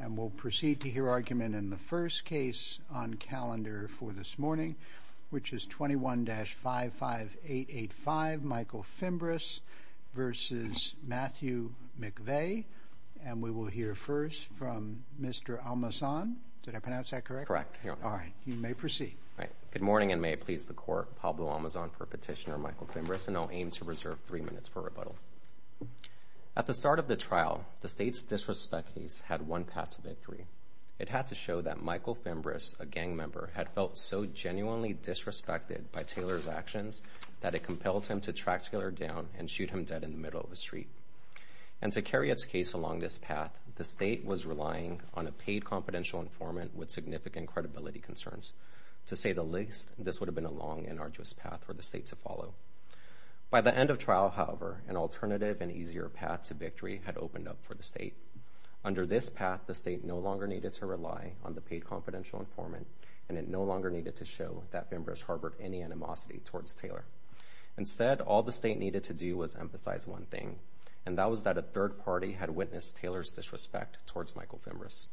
And we'll proceed to hear argument in the first case on calendar for this morning, which is 21-55885, Michael Fimbres v. Matthew McVeigh, and we will hear first from Mr. Almazan. Did I pronounce that correct? Correct. All right, you may proceed. Good morning, and may it please the Court, Pablo Almazan for petitioner Michael Fimbres, and I'll aim to reserve three minutes for rebuttal. At the start of the trial, the State's disrespect case had one path to victory. It had to show that Michael Fimbres, a gang member, had felt so genuinely disrespected by Taylor's actions that it compelled him to track Taylor down and shoot him dead in the middle of the street. And to carry its case along this path, the State was relying on a paid confidential informant with significant credibility concerns. To say the least, this would have been a long and arduous path for the State to follow. By the end of trial, however, an alternative and easier path to victory had opened up for the State. Under this path, the State no longer needed to rely on the paid confidential informant, and it no longer needed to show that Fimbres harbored any animosity towards Taylor. Instead, all the State needed to do was emphasize one thing, and that was that a third party had witnessed Taylor's disrespect towards Michael Fimbres.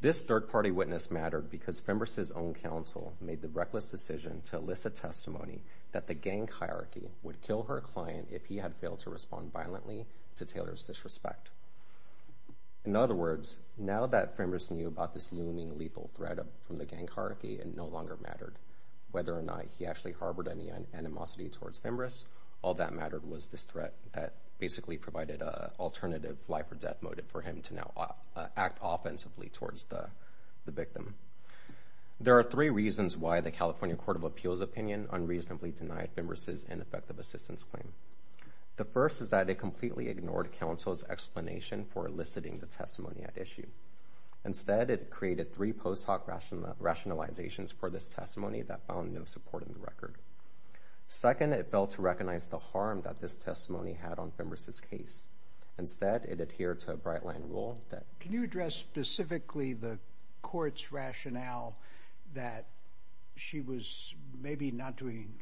This third party witness mattered because Fimbres' own counsel made the reckless decision to elicit testimony that the gang hierarchy would kill her client if he had failed to respond violently to Taylor's disrespect. In other words, now that Fimbres knew about this looming lethal threat from the gang hierarchy, it no longer mattered whether or not he actually harbored any animosity towards Fimbres. All that mattered was this threat that basically provided an alternative life-or-death motive for him to now act offensively towards the victim. There are three reasons why the California Court of Appeals' opinion unreasonably denied Fimbres' ineffective assistance claim. The first is that it completely ignored counsel's explanation for eliciting the testimony at issue. Instead, it created three post hoc rationalizations for this testimony that found no support in the record. Second, it failed to recognize the harm that this testimony had on Fimbres' case. Instead, it adhered to a bright-line rule that… Can you address specifically the court's rationale that she was maybe not doing…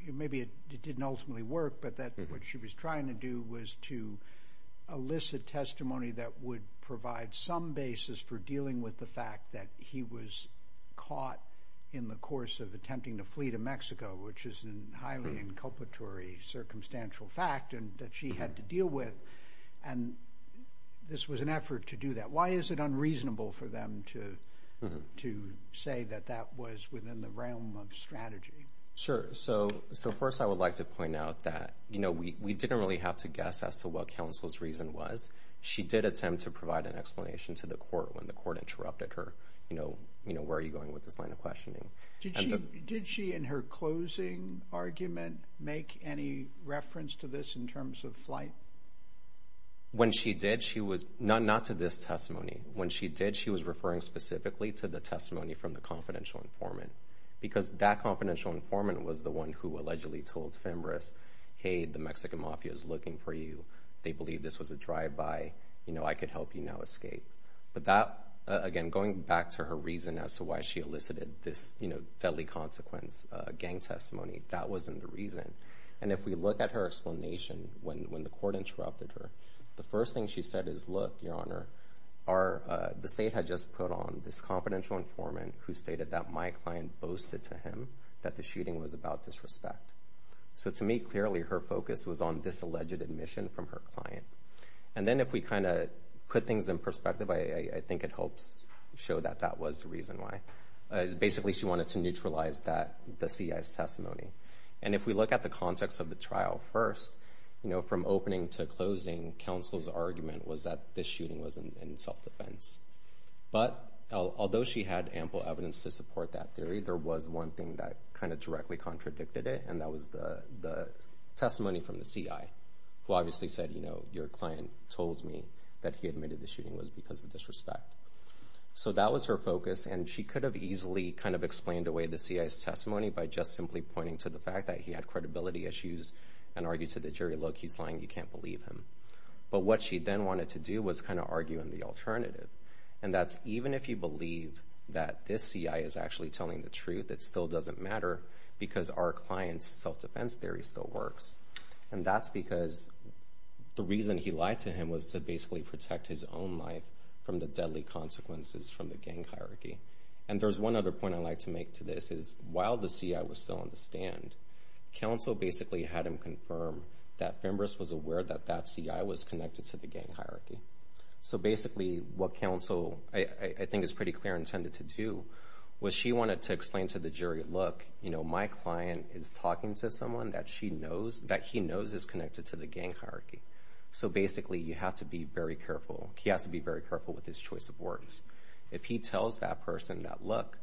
…highly inculpatory circumstantial fact that she had to deal with, and this was an effort to do that? Why is it unreasonable for them to say that that was within the realm of strategy? Sure. So first, I would like to point out that we didn't really have to guess as to what counsel's reason was. She did attempt to provide an explanation to the court when the court interrupted her. You know, where are you going with this line of questioning? Did she, in her closing argument, make any reference to this in terms of flight? When she did, she was…not to this testimony. When she did, she was referring specifically to the testimony from the confidential informant, because that confidential informant was the one who allegedly told Fimbres, hey, the Mexican mafia is looking for you. They believe this was a drive-by. You know, I could help you now escape. But that, again, going back to her reason as to why she elicited this deadly consequence gang testimony, that wasn't the reason. And if we look at her explanation when the court interrupted her, the first thing she said is, look, Your Honor, the state had just put on this confidential informant who stated that my client boasted to him that the shooting was about disrespect. So to me, clearly, her focus was on this alleged admission from her client. And then if we kind of put things in perspective, I think it helps show that that was the reason why. Basically, she wanted to neutralize the CI's testimony. And if we look at the context of the trial first, you know, from opening to closing, counsel's argument was that this shooting was in self-defense. But although she had ample evidence to support that theory, there was one thing that kind of directly contradicted it, and that was the testimony from the CI, who obviously said, you know, your client told me that he admitted the shooting was because of disrespect. So that was her focus, and she could have easily kind of explained away the CI's testimony by just simply pointing to the fact that he had credibility issues and argued to the jury, look, he's lying, you can't believe him. But what she then wanted to do was kind of argue in the alternative, and that's even if you believe that this CI is actually telling the truth, it still doesn't matter because our client's self-defense theory still works. And that's because the reason he lied to him was to basically protect his own life from the deadly consequences from the gang hierarchy. And there's one other point I'd like to make to this, is while the CI was still on the stand, counsel basically had him confirm that Fembris was aware that that CI was connected to the gang hierarchy. So basically what counsel, I think, is pretty clear intended to do, was she wanted to explain to the jury, look, you know, my client is talking to someone that he knows is connected to the gang hierarchy. So basically you have to be very careful. He has to be very careful with his choice of words. If he tells that person that, look,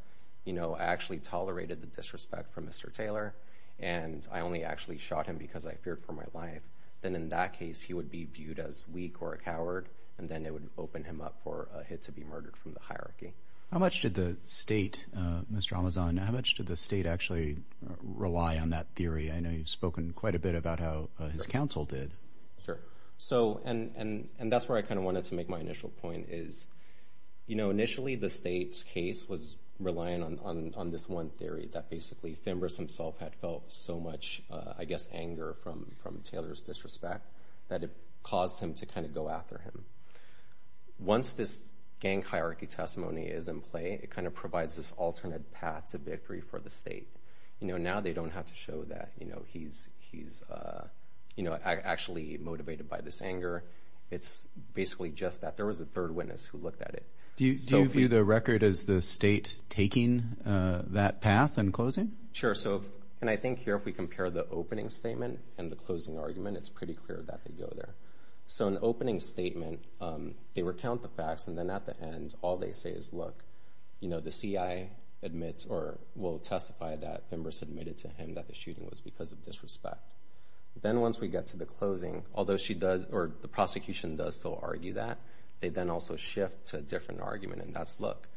you know, I actually tolerated the disrespect from Mr. Taylor and I only actually shot him because I feared for my life, then in that case he would be viewed as weak or a coward, and then it would open him up for a hit to be murdered from the hierarchy. How much did the state, Mr. Amazon, how much did the state actually rely on that theory? I know you've spoken quite a bit about how his counsel did. Sure. So, and that's where I kind of wanted to make my initial point, is, you know, initially the state's case was relying on this one theory that basically Fembris himself had felt so much, I guess, anger from Taylor's disrespect that it caused him to kind of go after him. Once this gang hierarchy testimony is in play, it kind of provides this alternate path to victory for the state. You know, now they don't have to show that, you know, he's actually motivated by this anger. It's basically just that there was a third witness who looked at it. Do you view the record as the state taking that path and closing? Sure. So, and I think here if we compare the opening statement and the closing argument, it's pretty clear that they go there. So, in the opening statement, they recount the facts, and then at the end all they say is, look, you know, the CI admits or will testify that Fembris admitted to him that the shooting was because of disrespect. Then once we get to the closing, although she does, or the prosecution does still argue that, they then also shift to a different argument, and that's look.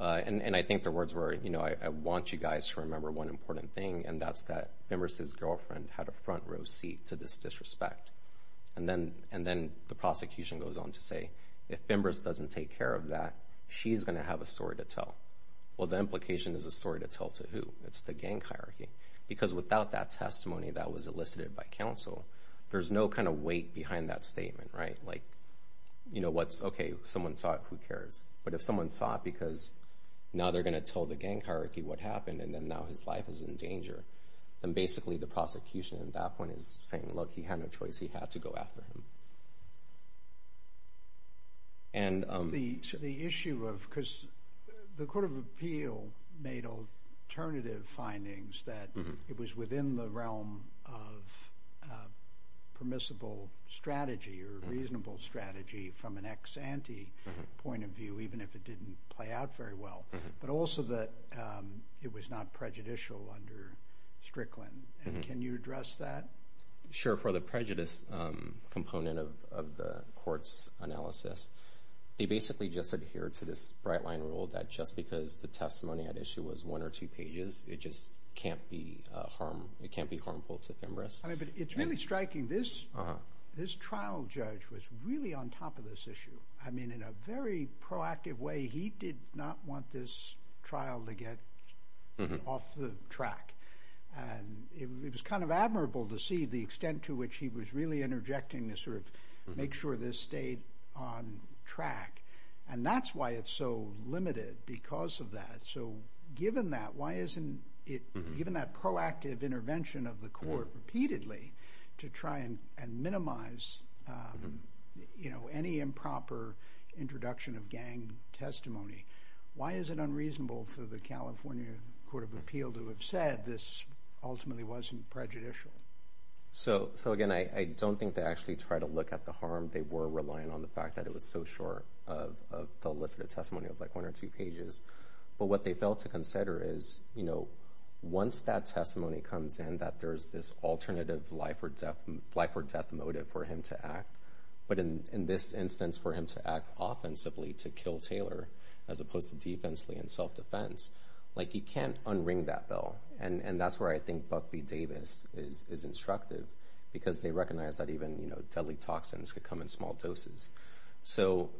And I think the words were, you know, I want you guys to remember one important thing, and that's that Fembris' girlfriend had a front row seat to this disrespect. And then the prosecution goes on to say, if Fembris doesn't take care of that, she's going to have a story to tell. Well, the implication is a story to tell to who? It's the gang hierarchy. Because without that testimony that was elicited by counsel, there's no kind of weight behind that statement, right? Like, you know, what's, okay, someone saw it, who cares? But if someone saw it because now they're going to tell the gang hierarchy what happened and then now his life is in danger, then basically the prosecution at that point is saying, look, he had no choice. He had to go after him. The issue of, because the Court of Appeal made alternative findings that it was within the realm of permissible strategy or reasonable strategy from an ex-ante point of view, even if it didn't play out very well, but also that it was not prejudicial under Strickland. And can you address that? Sure. For the prejudice component of the court's analysis, they basically just adhere to this bright-line rule that just because the testimony at issue was one or two pages, it just can't be harmful to Fembris. I mean, but it's really striking. This trial judge was really on top of this issue. I mean, in a very proactive way, he did not want this trial to get off the track. And it was kind of admirable to see the extent to which he was really interjecting to sort of make sure this stayed on track. And that's why it's so limited because of that. So given that, why isn't it, given that proactive intervention of the court repeatedly to try and minimize, you know, any improper introduction of gang testimony, why is it unreasonable for the California Court of Appeal to have said this ultimately wasn't prejudicial? So, again, I don't think they actually tried to look at the harm. They were relying on the fact that it was so short of the list of testimonials, like one or two pages. But what they failed to consider is, you know, once that testimony comes in, that there's this alternative life or death motive for him to act, but in this instance for him to act offensively to kill Taylor as opposed to defensively in self-defense, like you can't unring that bell. And that's where I think Buck v. Davis is instructive because they recognize that even, you know, deadly toxins could come in small doses. So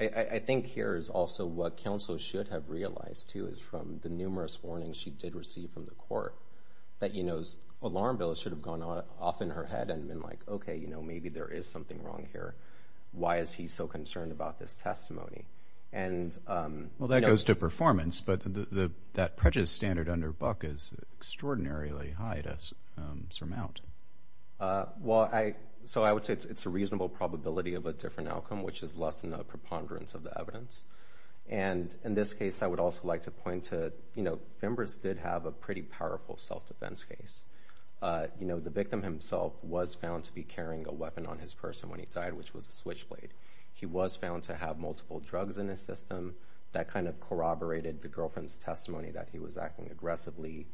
I think here is also what counsel should have realized, too, is from the numerous warnings she did receive from the court that, you know, alarm bells should have gone off in her head and been like, okay, you know, maybe there is something wrong here. Why is he so concerned about this testimony? Well, that goes to performance, but that prejudice standard under Buck is extraordinarily high to surmount. Well, so I would say it's a reasonable probability of a different outcome, which is less than a preponderance of the evidence. And in this case, I would also like to point to, you know, Fimbres did have a pretty powerful self-defense case. You know, the victim himself was found to be carrying a weapon on his person when he died, which was a switchblade. He was found to have multiple drugs in his system. That kind of corroborated the girlfriend's testimony that he was acting aggressively,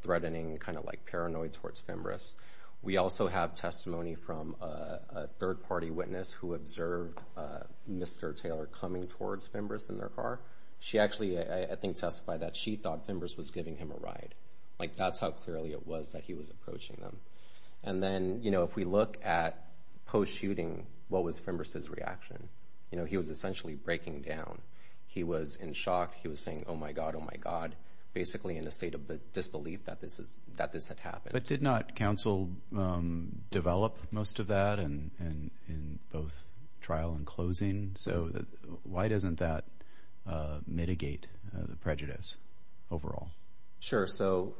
threatening, kind of like paranoid towards Fimbres. We also have testimony from a third-party witness who observed Mr. Taylor coming towards Fimbres in their car. She actually, I think, testified that she thought Fimbres was giving him a ride. Like, that's how clearly it was that he was approaching them. And then, you know, if we look at post-shooting, what was Fimbres' reaction? You know, he was essentially breaking down. He was in shock. He was saying, oh, my God, oh, my God, basically in a state of disbelief that this had happened. But did not counsel develop most of that in both trial and closing? So why doesn't that mitigate the prejudice overall? Sure. So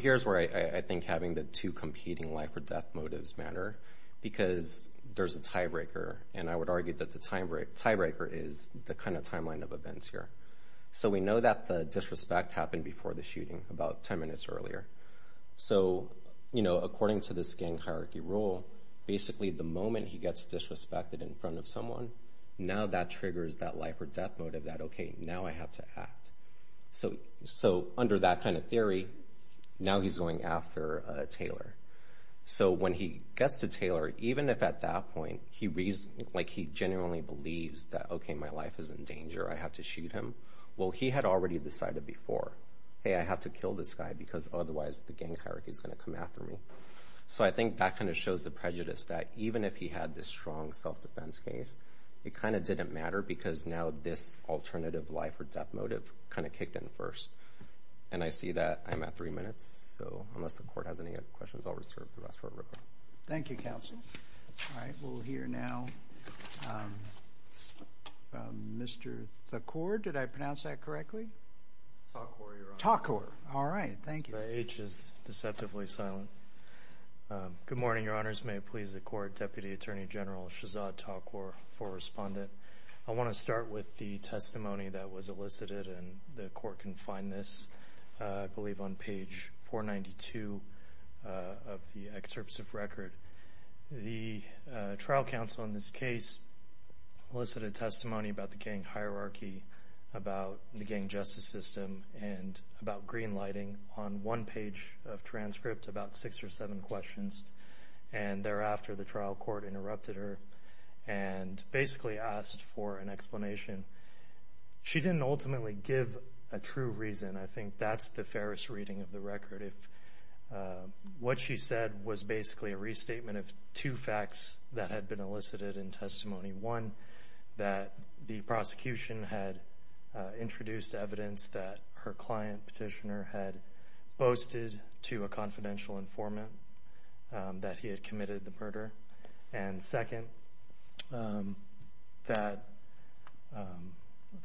here's where I think having the two competing life-or-death motives matter, because there's a tiebreaker. And I would argue that the tiebreaker is the kind of timeline of events here. So we know that the disrespect happened before the shooting, about 10 minutes earlier. So, you know, according to this gang hierarchy rule, basically the moment he gets disrespected in front of someone, now that triggers that life-or-death motive that, okay, now I have to act. So under that kind of theory, now he's going after Taylor. So when he gets to Taylor, even if at that point he genuinely believes that, okay, my life is in danger, I have to shoot him, well, he had already decided before, hey, I have to kill this guy because otherwise the gang hierarchy is going to come after me. So I think that kind of shows the prejudice that even if he had this strong self-defense case, it kind of didn't matter because now this alternative life-or-death motive kind of kicked in first. And I see that I'm at three minutes. So unless the Court has any other questions, I'll reserve the rest for a record. Thank you, Counsel. All right, we'll hear now Mr. Thakor. Did I pronounce that correctly? Thakor, Your Honor. Thakor. All right. Thank you. The H is deceptively silent. Good morning, Your Honors. May it please the Court, Deputy Attorney General Shahzad Thakor, for Respondent. I want to start with the testimony that was elicited, and the Court can find this, I believe, on page 492 of the excerpts of record. The trial counsel in this case elicited testimony about the gang hierarchy, about the gang justice system, and about green lighting on one page of transcript, about six or seven questions. And thereafter, the trial court interrupted her and basically asked for an explanation. She didn't ultimately give a true reason. I think that's the fairest reading of the record. What she said was basically a restatement of two facts that had been elicited in testimony. One, that the prosecution had introduced evidence that her client, Petitioner, had boasted to a confidential informant that he had committed the murder. And second, that, let's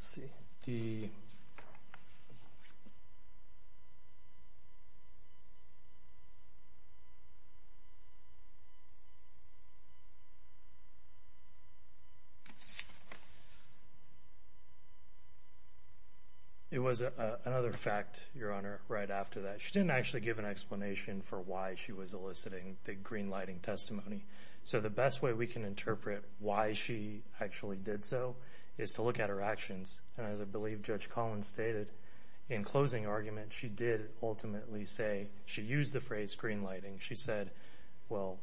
see, the... It was another fact, Your Honor, right after that. She didn't actually give an explanation for why she was eliciting the green lighting testimony. So the best way we can interpret why she actually did so is to look at her actions. And as I believe Judge Collins stated, in closing argument, she did ultimately say, she used the phrase green lighting. She said, well,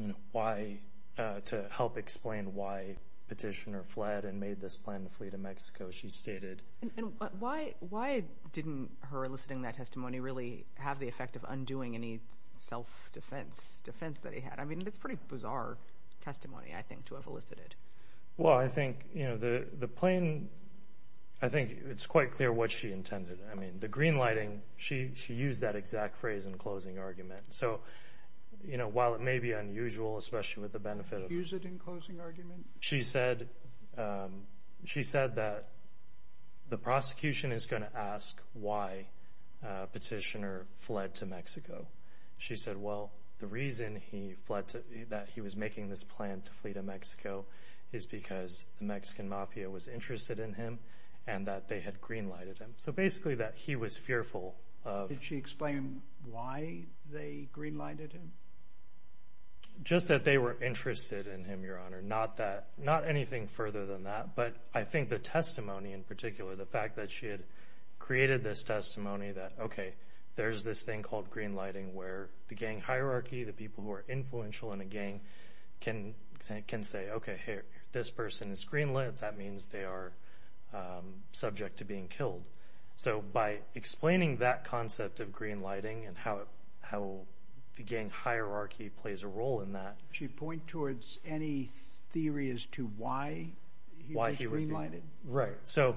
you know, why, to help explain why Petitioner fled and made this plan to flee to Mexico, she stated... And why didn't her eliciting that testimony really have the effect of undoing any self-defense, defense that he had? I mean, that's pretty bizarre testimony, I think, to have elicited. Well, I think, you know, the plain, I think it's quite clear what she intended. I mean, the green lighting, she used that exact phrase in closing argument. So, you know, while it may be unusual, especially with the benefit of... Did she use it in closing argument? She said, she said that the prosecution is going to ask why Petitioner fled to Mexico. She said, well, the reason he fled to, that he was making this plan to flee to Mexico is because the Mexican mafia was interested in him and that they had green lighted him. So basically that he was fearful of... Did she explain why they green lighted him? Just that they were interested in him, Your Honor, not that, not anything further than that. But I think the testimony in particular, the fact that she had created this testimony that, okay, there's this thing called green lighting where the gang hierarchy, the people who are influential in a gang can say, okay, here, this person is green lit. That means they are subject to being killed. So by explaining that concept of green lighting and how the gang hierarchy plays a role in that... Did she point towards any theory as to why he was green lighted? Right. So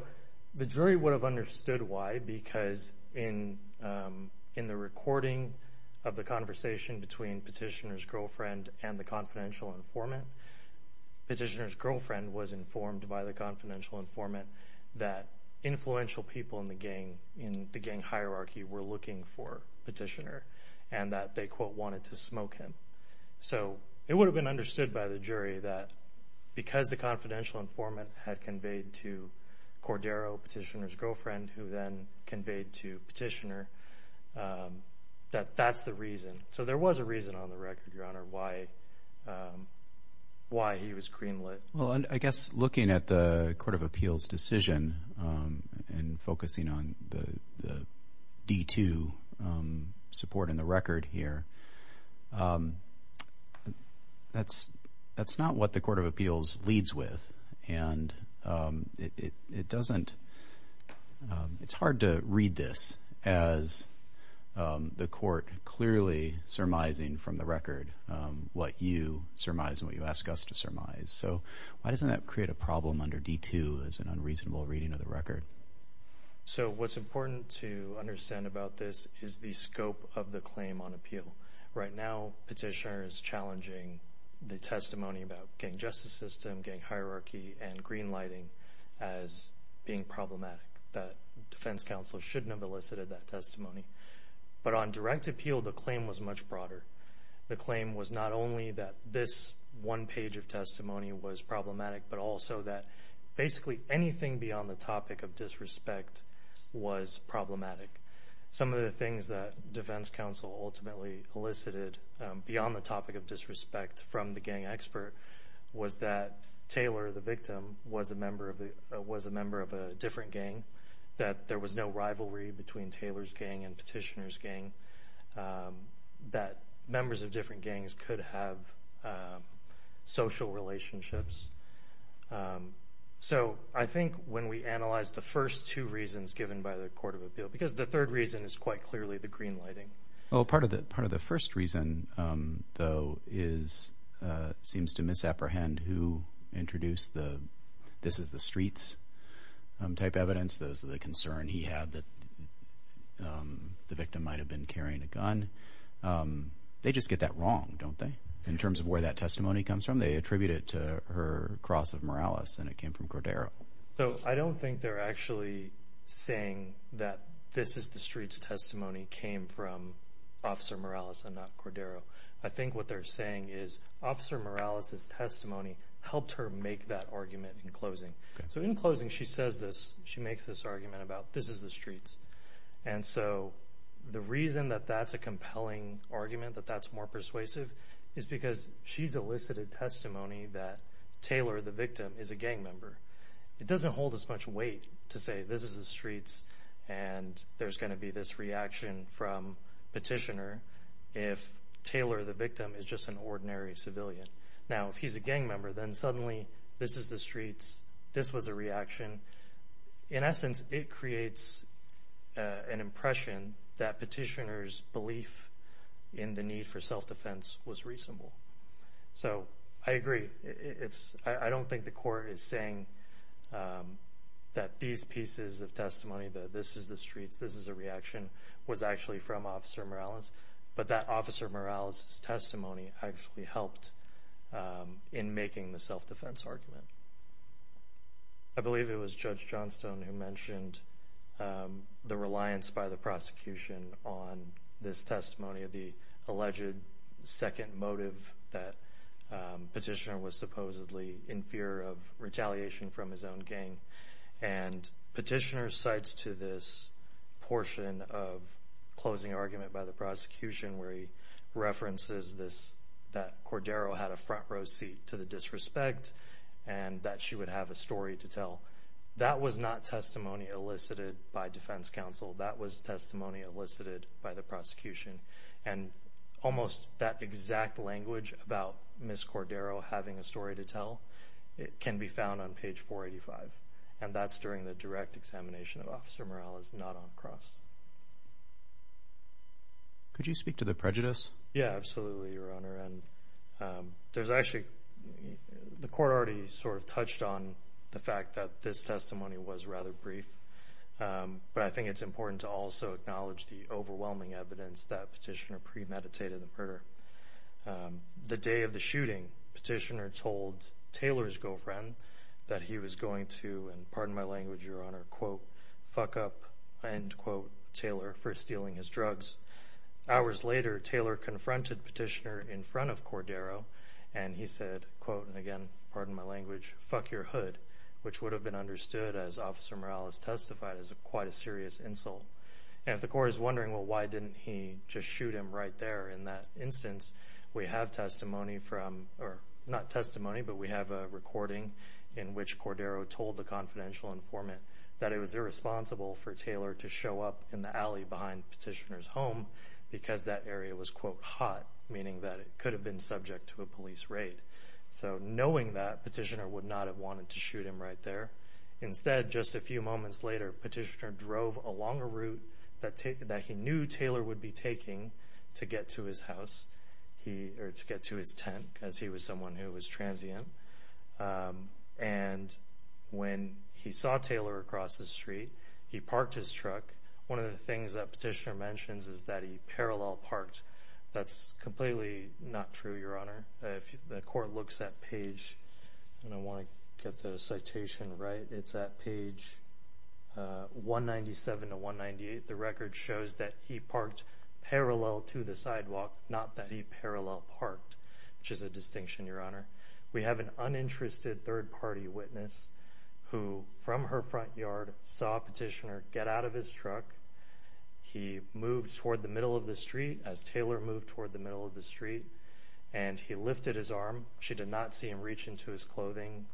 the jury would have understood why because in the recording of the conversation between Petitioner's girlfriend and the confidential informant, that influential people in the gang hierarchy were looking for Petitioner and that they, quote, wanted to smoke him. So it would have been understood by the jury that because the confidential informant had conveyed to Cordero, Petitioner's girlfriend, who then conveyed to Petitioner, that that's the reason. So there was a reason on the record, Your Honor, why he was green lit. Well, I guess looking at the Court of Appeals decision and focusing on the D2 support in the record here, that's not what the Court of Appeals leads with, and it doesn't... It's hard to read this as the court clearly surmising from the record what you surmise and what you ask us to surmise. So why doesn't that create a problem under D2 as an unreasonable reading of the record? So what's important to understand about this is the scope of the claim on appeal. Right now, Petitioner is challenging the testimony about gang justice system, gang hierarchy, and green lighting as being problematic, that defense counsel shouldn't have elicited that testimony. But on direct appeal, the claim was much broader. The claim was not only that this one page of testimony was problematic, but also that basically anything beyond the topic of disrespect was problematic. Some of the things that defense counsel ultimately elicited beyond the topic of disrespect from the gang expert was that Taylor, the victim, was a member of a different gang, that there was no rivalry between Taylor's gang and Petitioner's gang, that members of different gangs could have social relationships. So I think when we analyze the first two reasons given by the court of appeal, because the third reason is quite clearly the green lighting. Well, part of the first reason, though, seems to misapprehend who introduced the this is the streets type evidence. Those are the concern he had that the victim might have been carrying a gun. They just get that wrong, don't they, in terms of where that testimony comes from? They attribute it to her cross of Morales, and it came from Cordero. So I don't think they're actually saying that this is the streets testimony came from Officer Morales and not Cordero. I think what they're saying is Officer Morales' testimony helped her make that argument in closing. So in closing, she says this. She makes this argument about this is the streets. And so the reason that that's a compelling argument, that that's more persuasive, is because she's elicited testimony that Taylor, the victim, is a gang member. It doesn't hold as much weight to say this is the streets and there's going to be this reaction from Petitioner if Taylor, the victim, is just an ordinary civilian. Now, if he's a gang member, then suddenly this is the streets, this was a reaction. In essence, it creates an impression that Petitioner's belief in the need for self-defense was reasonable. So I agree. I don't think the court is saying that these pieces of testimony, that this is the streets, this is a reaction, was actually from Officer Morales, but that Officer Morales' testimony actually helped in making the self-defense argument. I believe it was Judge Johnstone who mentioned the reliance by the prosecution on this testimony, the alleged second motive that Petitioner was supposedly in fear of retaliation from his own gang. And Petitioner cites to this portion of closing argument by the prosecution where he references this, that Cordero had a front row seat to the disrespect and that she would have a story to tell. That was not testimony elicited by defense counsel. That was testimony elicited by the prosecution. And almost that exact language about Ms. Cordero having a story to tell, it can be found on page 485, and that's during the direct examination of Officer Morales, not on the cross. Could you speak to the prejudice? Yeah, absolutely, Your Honor. And there's actually, the court already sort of touched on the fact that this testimony was rather brief, but I think it's important to also acknowledge the overwhelming evidence that Petitioner premeditated the murder. The day of the shooting, Petitioner told Taylor's girlfriend that he was going to, and pardon my language, Your Honor, quote, fuck up, end quote, Taylor for stealing his drugs. Hours later, Taylor confronted Petitioner in front of Cordero, and he said, quote, and again, pardon my language, fuck your hood, which would have been understood, as Officer Morales testified, as quite a serious insult. And if the court is wondering, well, why didn't he just shoot him right there? In that instance, we have testimony from, or not testimony, but we have a recording in which Cordero told the confidential informant that it was irresponsible for Taylor to show up in the alley behind Petitioner's home because that area was, quote, hot, meaning that it could have been subject to a police raid. So knowing that, Petitioner would not have wanted to shoot him right there. Instead, just a few moments later, Petitioner drove along a route that he knew Taylor would be taking to get to his house, or to get to his tent, because he was someone who was transient. And when he saw Taylor across the street, he parked his truck. One of the things that Petitioner mentions is that he parallel parked. That's completely not true, Your Honor. If the court looks at page, and I want to get the citation right, it's at page 197 to 198. The record shows that he parked parallel to the sidewalk, not that he parallel parked, which is a distinction, Your Honor. We have an uninterested third-party witness who, from her front yard, saw Petitioner get out of his truck. He moved toward the middle of the street as Taylor moved toward the middle of the street, and he lifted his arm. She did not see him reach into his clothing for a moment.